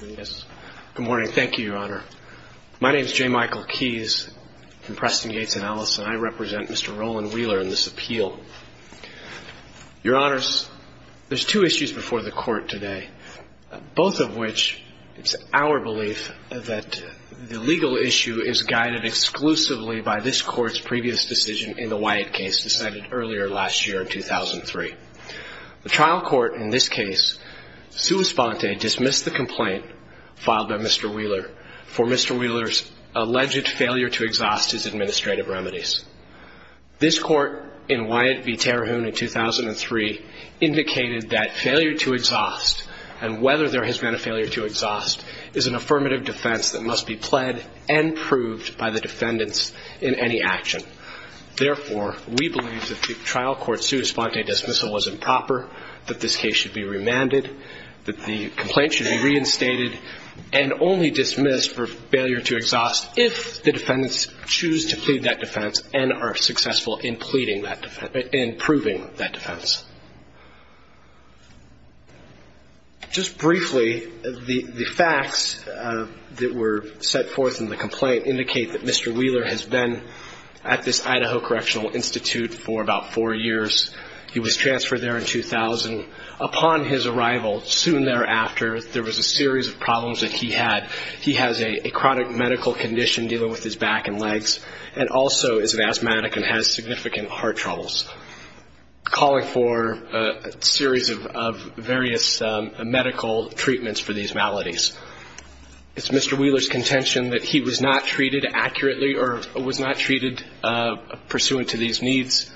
Good morning. Thank you, Your Honor. My name is J. Michael Keyes from Preston, Gates & Ellis, and I represent Mr. Roland Wheeler in this appeal. Your Honors, there's two issues before the Court today, both of which it's our belief that the legal issue is guided exclusively by this Court's previous decision in the Wyatt case decided earlier last year in 2003. The trial court in this case, sua sponte, dismissed the complaint filed by Mr. Wheeler for Mr. Wheeler's alleged failure to exhaust his administrative remedies. This Court in Wyatt v. Terrehune in 2003 indicated that failure to exhaust and whether there has been a failure to exhaust is an affirmative defense that must be pled and proved by the defendants in any action. Therefore, we believe that the trial court's sua sponte dismissal was improper, that this case should be remanded, that the complaint should be reinstated and only dismissed for failure to exhaust if the defendants choose to plead that defense and are successful in pleading that defense, in proving that defense. Just briefly, the facts that were set forth in the complaint indicate that Mr. Wheeler has been at this Idaho Correctional Institute for about four years. He was transferred there in 2000. Upon his arrival, soon thereafter, there was a series of problems that he had. He has a chronic medical condition dealing with his back and legs and also is an asthmatic and has significant heart troubles, calling for a series of various medical treatments for these maladies. It's Mr. Wheeler's contention that he was not treated accurately or was not treated pursuant to these needs,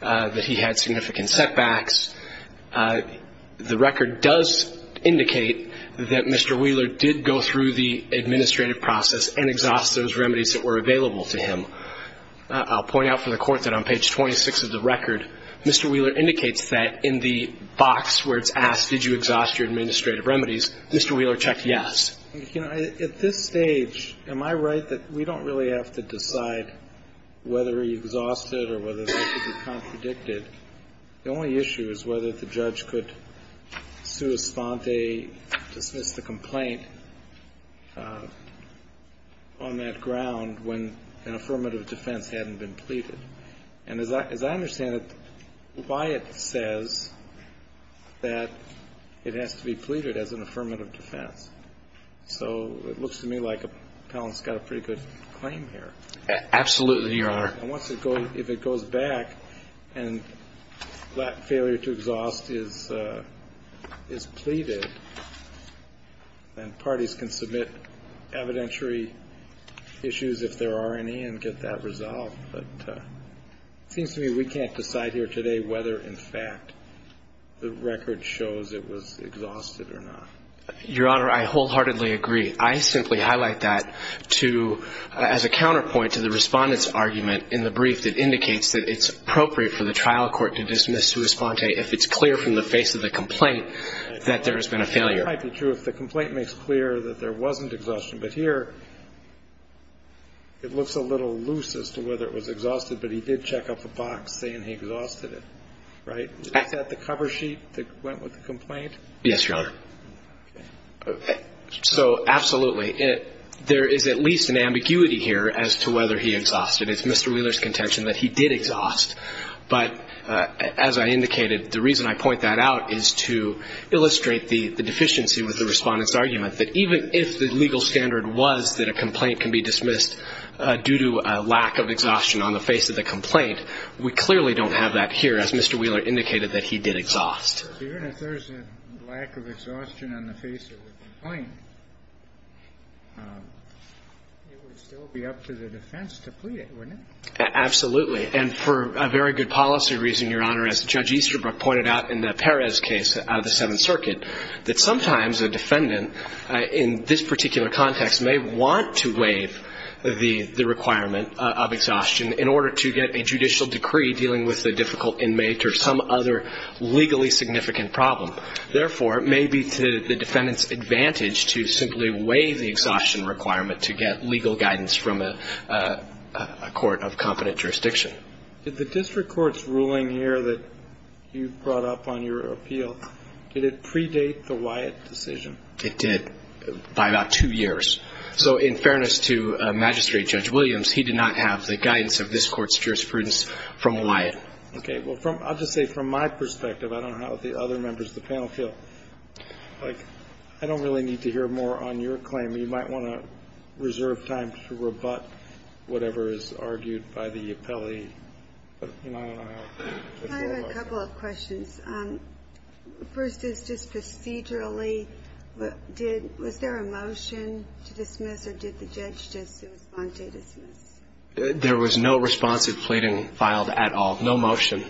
that he had significant setbacks. The record does indicate that Mr. Wheeler did go through the administrative process and exhaust those remedies that were Mr. Wheeler indicates that in the box where it's asked, did you exhaust your administrative remedies, Mr. Wheeler checked yes. You know, at this stage, am I right that we don't really have to decide whether he exhausted or whether they should be contradicted? The only issue is whether the judge could sua sponte dismiss the complaint on that ground when an affirmative defense hadn't been pleaded. And as I understand it, why it says that it has to be pleaded as an affirmative defense. So it looks to me like Appellant's got a pretty good claim here. Absolutely, Your Honor. And once it goes, if it goes back and that failure to exhaust is pleaded, then parties can submit evidentiary issues, if there are any, and get that resolved. But it seems to me we can't decide here today whether, in fact, the record shows it was exhausted or not. Your Honor, I wholeheartedly agree. I simply highlight that as a counterpoint to the Respondent's argument in the brief that indicates that it's appropriate for the trial court to dismiss sua sponte if it's clear from the face of the complaint that there has been a failure. It might be true if the complaint makes clear that there wasn't exhaustion. But here, it looks a little loose as to whether it was exhausted, but he did check off a box saying he exhausted it, right? Is that the cover sheet that went with the complaint? Yes, Your Honor. Okay. So absolutely, there is at least an ambiguity here as to whether he exhausted. It's Mr. Wheeler's contention that he did exhaust. But as I indicated, the reason I point that out is to illustrate the deficiency with the Respondent's argument, that even if the legal standard was that a complaint can be dismissed due to a lack of exhaustion on the face of the complaint, we clearly don't have that here, as Mr. Wheeler indicated, that he did exhaust. Even if there's a lack of exhaustion on the face of the complaint, it would still be up to the defense to plead it, wouldn't it? Absolutely. And for a very good policy reason, Your Honor, as Judge Easterbrook pointed out in the Perez case out of the Seventh Circuit, that sometimes a defendant in this particular context may want to waive the requirement of exhaustion in order to get a judicial decree dealing with a difficult inmate or some other legally significant problem. Therefore, it may be to the defendant's advantage to simply waive the exhaustion requirement to get legal guidance from a court of competent jurisdiction. Did the district court's ruling here that you brought up on your appeal, did it predate the Wyatt decision? It did, by about two years. So in fairness to Magistrate Judge Williams, he did not have the guidance of this court's jurisprudence from Wyatt. Okay. Well, I'll just say from my perspective, I don't know how the other members of the panel feel. Like, I don't really need to hear more on your claim. You might want to reserve time to rebut whatever is argued by the appellee. I don't know how it will work. I have a couple of questions. First is just procedurally, was there a motion to dismiss or did the judge just respond to a dismiss? There was no responsive pleading filed at all. No motion.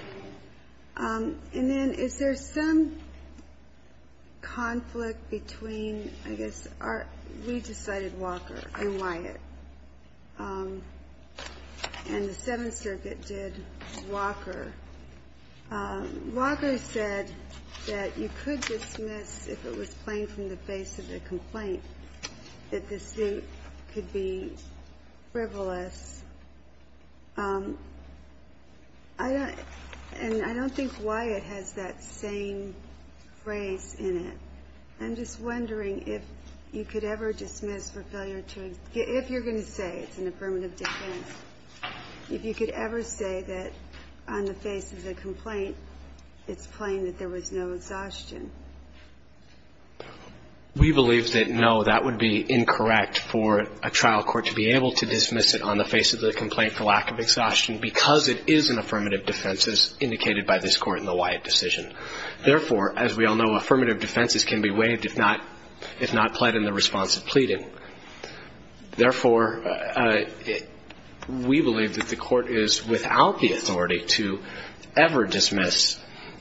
And then is there some conflict between, I guess, we decided Walker and Wyatt, and the Seventh Circuit did Walker. Walker said that you could dismiss if it was plain from the face of a complaint, that the suit could be frivolous. And I don't think Wyatt has that same phrase in it. I'm just wondering if you could ever dismiss for failure to, if you're going to say it's an affirmative defense, if you could ever say that on the face of the complaint it's plain that there was no exhaustion. We believe that, no, that would be incorrect for a trial court to be able to dismiss it on the face of a complaint. It would be incorrect to dismiss it on the face of the complaint for lack of exhaustion because it is an affirmative defense, as indicated by this Court in the Wyatt decision. Therefore, as we all know, affirmative defenses can be waived if not pled in the responsive pleading. Therefore, we believe that the Court is without the authority to ever dismiss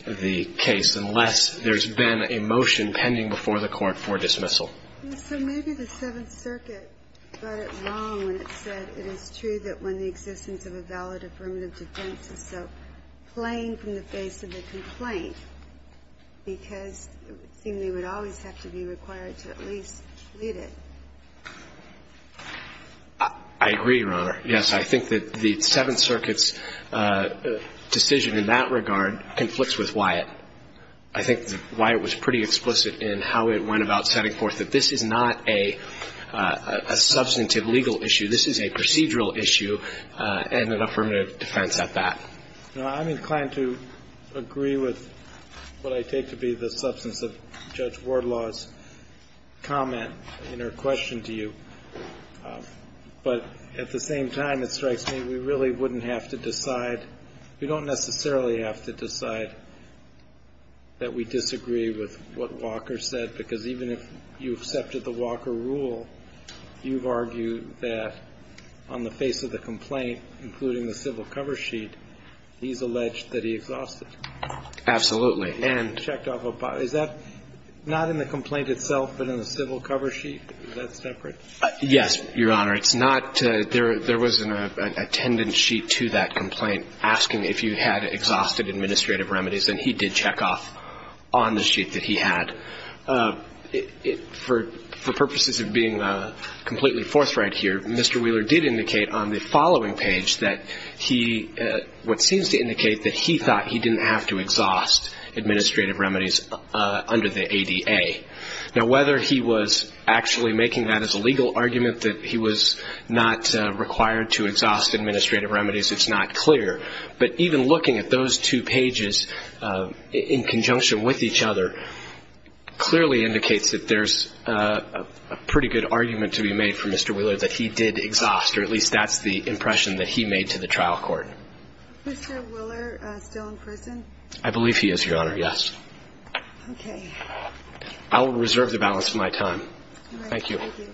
the case unless there's been a motion pending before the Court for dismissal. So maybe the Seventh Circuit got it wrong when it said it is true that when the existence of a valid affirmative defense is so plain from the face of the complaint because it would seem they would always have to be required to at least plead it. I agree, Your Honor. Yes, I think that the Seventh Circuit's decision in that regard conflicts with Wyatt. I think Wyatt was pretty explicit in how it went about setting forth that this is not a substantive legal issue. This is a procedural issue and an affirmative defense at that. I'm inclined to agree with what I take to be the substance of Judge Wardlaw's comment in her question to you. But at the same time, it strikes me we really wouldn't have to decide. We don't necessarily have to decide that we disagree with what Walker said, because even if you accepted the Walker rule, you've argued that on the face of the complaint, including the civil cover sheet, he's alleged that he exhausted. Absolutely. And checked off. Is that not in the complaint itself but in the civil cover sheet? Is that separate? Yes, Your Honor. It's not. There was an attendance sheet to that complaint asking if you had exhausted administrative remedies, and he did check off on the sheet that he had. For purposes of being completely forthright here, Mr. Wheeler did indicate on the following page that he, what seems to indicate that he thought he didn't have to exhaust administrative remedies under the ADA. Now, whether he was actually making that as a legal argument that he was not required to exhaust administrative remedies, it's not clear. But even looking at those two pages in conjunction with each other clearly indicates that there's a pretty good argument to be made from Mr. Wheeler that he did exhaust, or at least that's the impression that he made to the trial court. Is Mr. Wheeler still in prison? I believe he is, Your Honor, yes. Okay. I will reserve the balance of my time. Thank you. Thank you.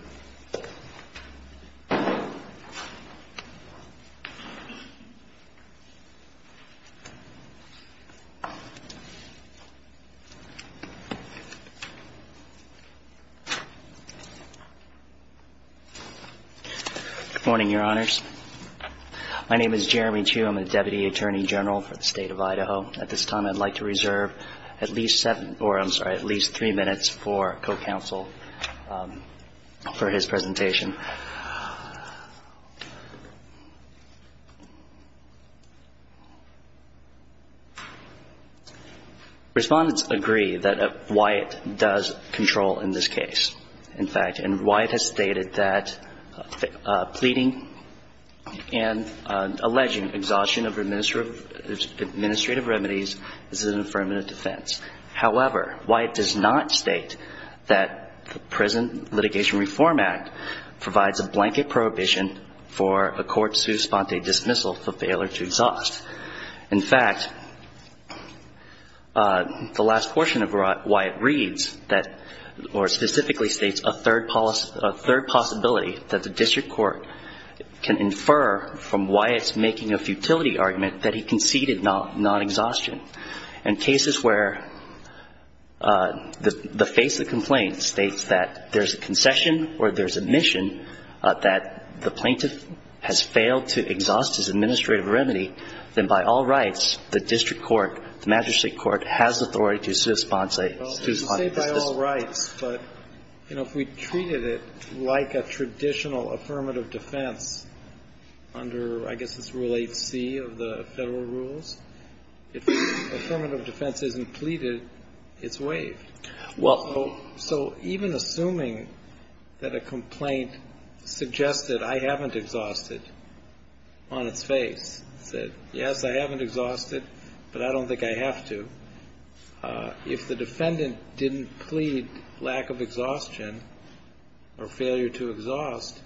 Good morning, Your Honors. My name is Jeremy Chew. I'm a Deputy Attorney General for the State of Idaho. At this time, I'd like to reserve at least seven or, I'm sorry, at least three minutes for co-counsel for his presentation. Respondents agree that Wyatt does control in this case, in fact. And Wyatt has stated that pleading and alleging exhaustion of administrative remedies is an affirmative defense. However, Wyatt does not state that the Prison Litigation Reform Act provides a blanket prohibition for a court's sponte dismissal for failure to exhaust. In fact, the last portion of Wyatt reads that, or specifically states, a third possibility that the district court can infer from Wyatt's making a futility argument that he conceded non-exhaustion. In cases where the face of the complaint states that there's a concession or there's admission that the plaintiff has failed to exhaust his administrative remedy, then by all rights, the district court, the magistrate court, has authority to sue his sponse. Well, you say by all rights, but, you know, if we treated it like a traditional affirmative defense under, I guess it's Rule 8c of the Federal rules, if the affirmative defense isn't pleaded, it's waived. So even assuming that a complaint suggested I haven't exhausted on its face, said, yes, I haven't exhausted, but I don't think I have to, if the defendant didn't plead lack of exhaustion or failure to exhaust,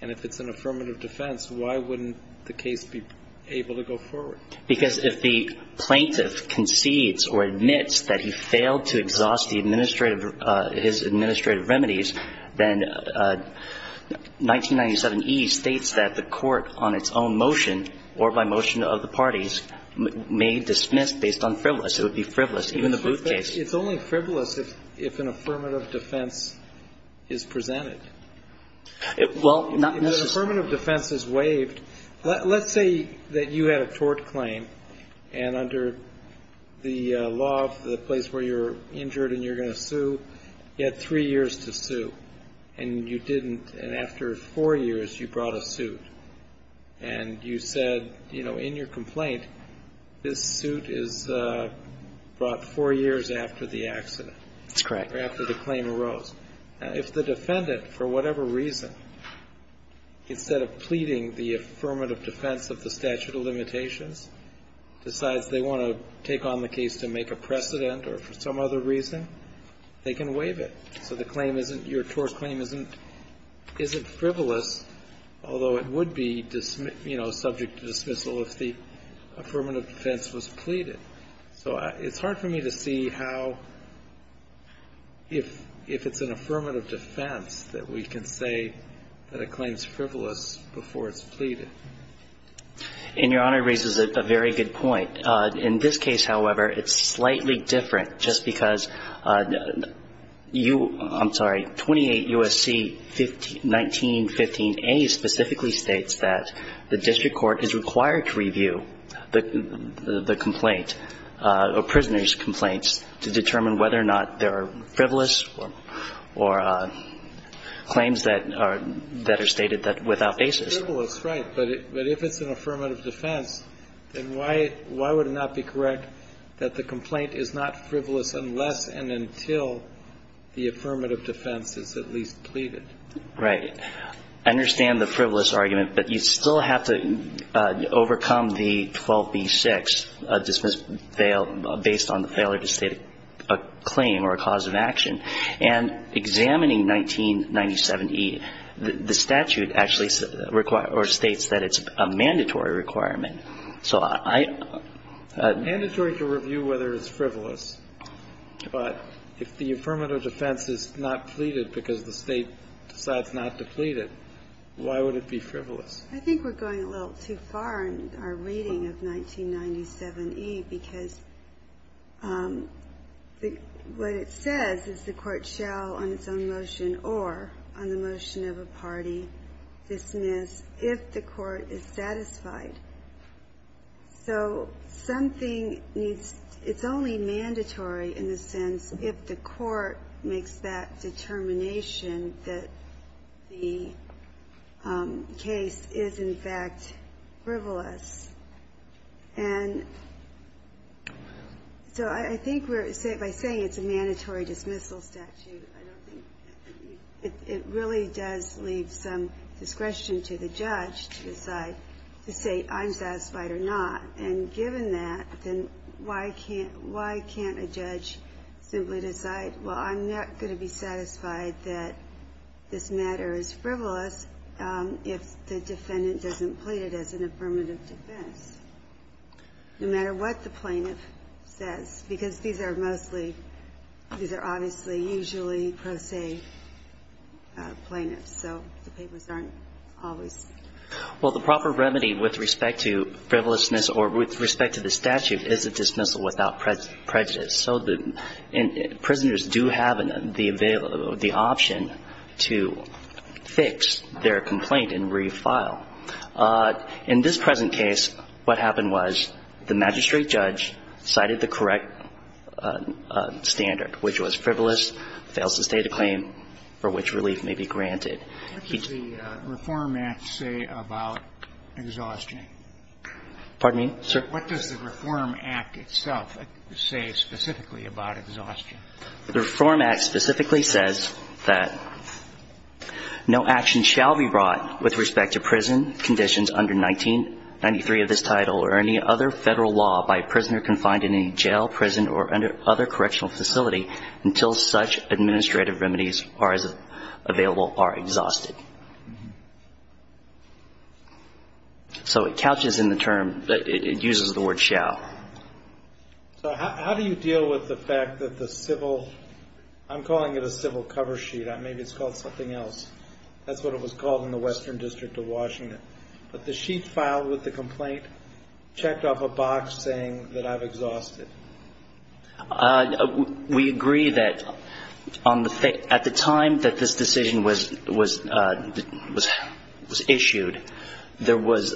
and if it's an affirmative defense, why wouldn't the case be able to go forward? Because if the plaintiff concedes or admits that he failed to exhaust the administrative his administrative remedies, then 1997e states that the court on its own motion or by motion of the parties may dismiss based on frivolous. It would be frivolous, even the Booth case. It's only frivolous if an affirmative defense is presented. Well, not necessarily. If an affirmative defense is waived, let's say that you had a tort claim, and under the law of the place where you're injured and you're going to sue, you had three years to sue, and you didn't, and after four years, you brought a suit, and you said, you know, in your complaint, this suit is brought four years after the accident. That's correct. After the claim arose. If the defendant, for whatever reason, instead of pleading the affirmative defense of the statute of limitations, decides they want to take on the case to make a precedent or for some other reason, they can waive it. So the claim isn't, your tort claim isn't frivolous, although it would be, you know, subject to dismissal if the affirmative defense was pleaded. So it's hard for me to see how, if it's an affirmative defense, that we can say that a claim is frivolous before it's pleaded. And Your Honor raises a very good point. In this case, however, it's slightly different, just because you, I'm sorry, 28 U.S.C. 1915a specifically states that the district court is required to review the complaint or prisoner's complaints to determine whether or not they're frivolous or claims that are stated without basis. It's frivolous, right. But if it's an affirmative defense, then why would it not be correct that the complaint is not frivolous unless and until the affirmative defense is at least pleaded? Right. I understand the frivolous argument, but you still have to overcome the 12b-6, dismissal based on the failure to state a claim or a cause of action. And examining 1997e, the statute actually states that it's a mandatory requirement. So I don't know. Mandatory to review whether it's frivolous, but if the affirmative defense is not pleaded because the State decides not to plead it, why would it be frivolous? I think we're going a little too far in our reading of 1997e, because what it says is the Court shall on its own motion or on the motion of a party dismiss if the Court is satisfied. So something needs to be said. It's only mandatory in the sense if the Court makes that determination that the case is in fact frivolous. And so I think by saying it's a mandatory dismissal statute, I don't think it really does leave some discretion to the judge to decide to say I'm satisfied or not. And given that, then why can't why can't a judge simply decide, well, I'm not going to be satisfied that this matter is frivolous if the defendant doesn't plead it as an affirmative defense, no matter what the plaintiff says, because these are mostly these are obviously usually pro se plaintiffs. So the papers aren't always. Well, the proper remedy with respect to frivolousness or with respect to the statute is a dismissal without prejudice. So prisoners do have the option to fix their complaint and refile. In this present case, what happened was the magistrate judge cited the correct standard, which was frivolous, fails to state a claim for which relief may be granted. What does the Reform Act say about exhaustion? Pardon me? What does the Reform Act itself say specifically about exhaustion? The Reform Act specifically says that no action shall be brought with respect to prison conditions under 1993 of this title or any other Federal law by a prisoner confined in any jail, prison, or other correctional facility until such administrative remedies are available or exhausted. So it couches in the term, it uses the word shall. So how do you deal with the fact that the civil, I'm calling it a civil cover sheet. Maybe it's called something else. That's what it was called in the Western District of Washington. But the sheet filed with the complaint checked off a box saying that I've exhausted. We agree that at the time that this decision was issued, there was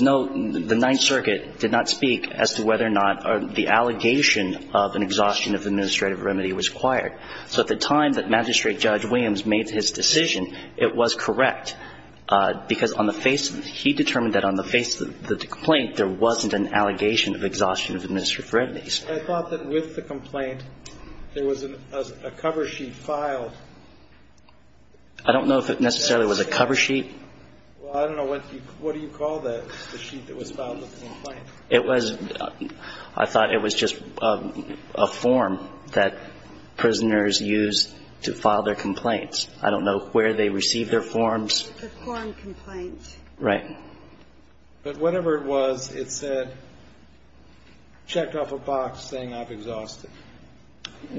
no, the Ninth Circuit did not speak as to whether or not the allegation of an exhaustion of administrative remedy was acquired. So at the time that Magistrate Judge Williams made his decision, it was correct, because on the face, he determined that on the face of the complaint, there wasn't an allegation of exhaustion of administrative remedies. I thought that with the complaint, there was a cover sheet filed. I don't know if it necessarily was a cover sheet. Well, I don't know. What do you call the sheet that was filed with the complaint? It was, I thought it was just a form that prisoners use to file their complaints. I don't know where they receive their forms. It's a form complaint. Right. But whatever it was, it said, checked off a box saying I've exhausted.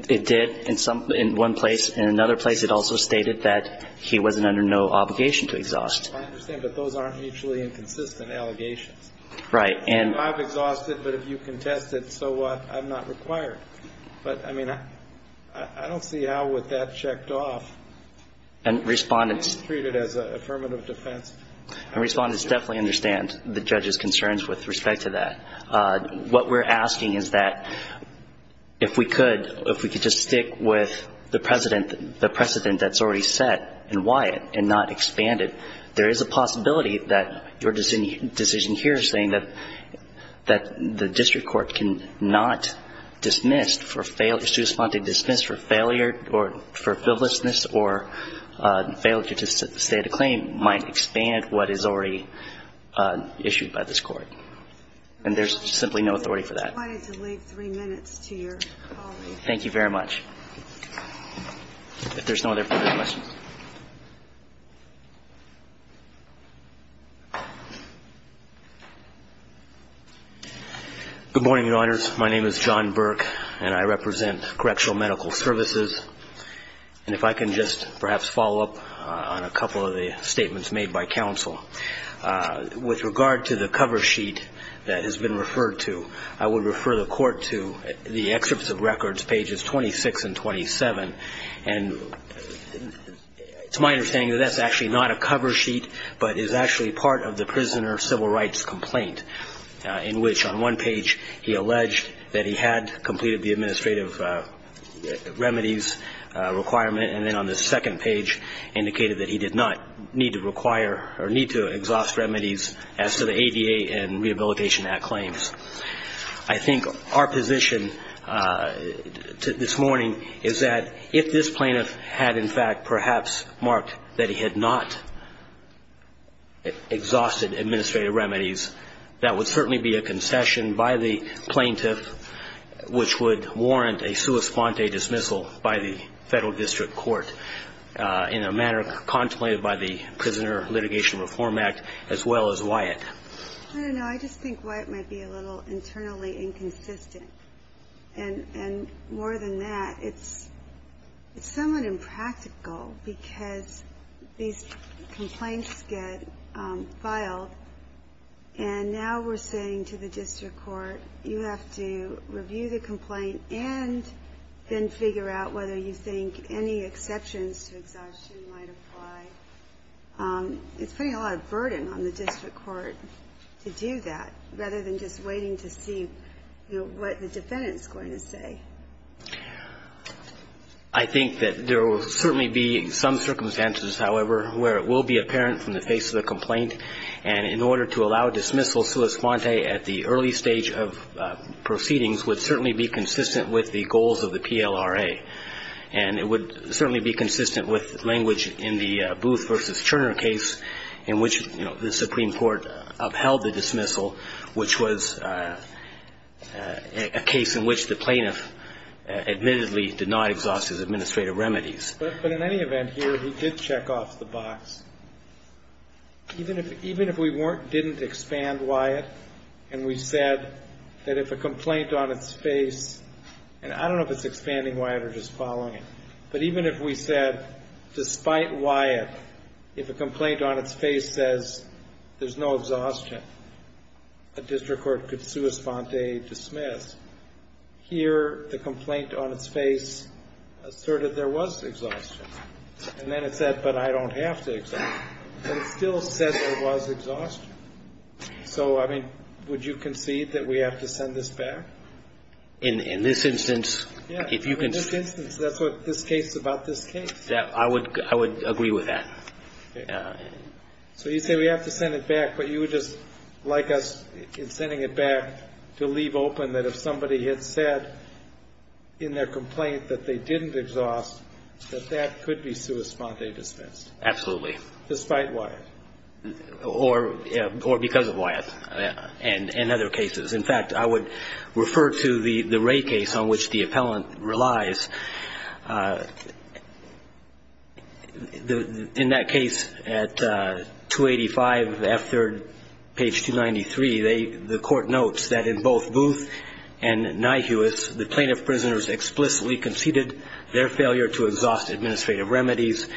It did. In one place. In another place, it also stated that he wasn't under no obligation to exhaust. I understand. But those aren't mutually inconsistent allegations. Right. And I've exhausted, but if you contest it, so what? I'm not required. But, I mean, I don't see how with that checked off, it's treated as an affirmative defense. And Respondents definitely understand the judge's concerns with respect to that. What we're asking is that if we could, if we could just stick with the precedent that's already set in Wyatt and not expand it, there is a possibility that your dismissed for failure or for frivolousness or failure to state a claim might expand what is already issued by this Court. And there's simply no authority for that. I'm going to leave three minutes to your colleague. Thank you very much. If there's no other further questions. Good morning, Your Honors. My name is John Burke, and I represent Correctional Medical Services. And if I can just perhaps follow up on a couple of the statements made by counsel. With regard to the cover sheet that has been referred to, I would refer the Court to the excerpts of records, pages 26 and 27. And it's my understanding that that's actually not a cover sheet, but is actually civil rights complaint in which on one page he alleged that he had completed the administrative remedies requirement, and then on the second page indicated that he did not need to require or need to exhaust remedies as to the ADA and Rehabilitation Act claims. I think our position this morning is that if this plaintiff had in fact perhaps marked that he had not exhausted administrative remedies, that would certainly be a concession by the plaintiff, which would warrant a sua sponte dismissal by the Federal District Court in a manner contemplated by the Prisoner Litigation Reform Act, as well as Wyatt. I don't know. I just think Wyatt might be a little internally inconsistent. And more than that, it's somewhat impractical because these complaints get filed, and now we're saying to the district court, you have to review the complaint and then figure out whether you think any exceptions to exhaustion might apply. It's putting a lot of burden on the district court to do that, rather than just waiting to see, you know, what the defendant's going to say. I think that there will certainly be some circumstances, however, where it will be apparent from the face of the complaint, and in order to allow dismissal sua sponte at the early stage of proceedings would certainly be consistent with the goals of the PLRA. And it would certainly be consistent with language in the Booth v. Turner case in which, you know, the Supreme Court upheld the dismissal, which was an example of a case in which the plaintiff admittedly did not exhaust his administrative remedies. But in any event here, he did check off the box. Even if we weren't, didn't expand Wyatt, and we said that if a complaint on its face, and I don't know if it's expanding Wyatt or just following it, but even if we said, despite Wyatt, if a complaint on its face says, there's no exhaustion, a district court could sua sponte dismiss. Here, the complaint on its face asserted there was exhaustion. And then it said, but I don't have to exhaust. But it still says there was exhaustion. So, I mean, would you concede that we have to send this back? In this instance, if you can see. Yeah, in this instance, that's what this case is about this case. I would agree with that. So you say we have to send it back, but you would just like us in sending it back to leave open that if somebody had said in their complaint that they didn't exhaust, that that could be sua sponte dispensed? Absolutely. Despite Wyatt. Or because of Wyatt and other cases. In fact, I would refer to the Ray case on which the appellant relies. In that case, at 285, F3rd, page 293, the court notes that in both Booth and Nyhuis, the plaintiff prisoners explicitly conceded their failure to exhaust administrative remedies.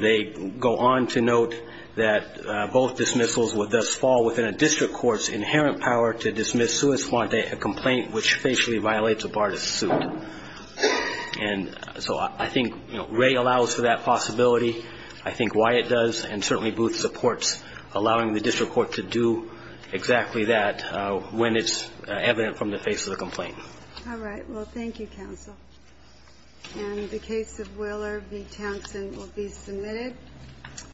They go on to note that both dismissals would thus fall within a district court's inherent power to dismiss sua sponte, a complaint which facially violates a BARTIS suit. And so I think Ray allows for that possibility. I think Wyatt does. And certainly Booth supports allowing the district court to do exactly that when it's evident from the face of the complaint. All right. Well, thank you, counsel. And the case of Willer v. Townsend will be submitted.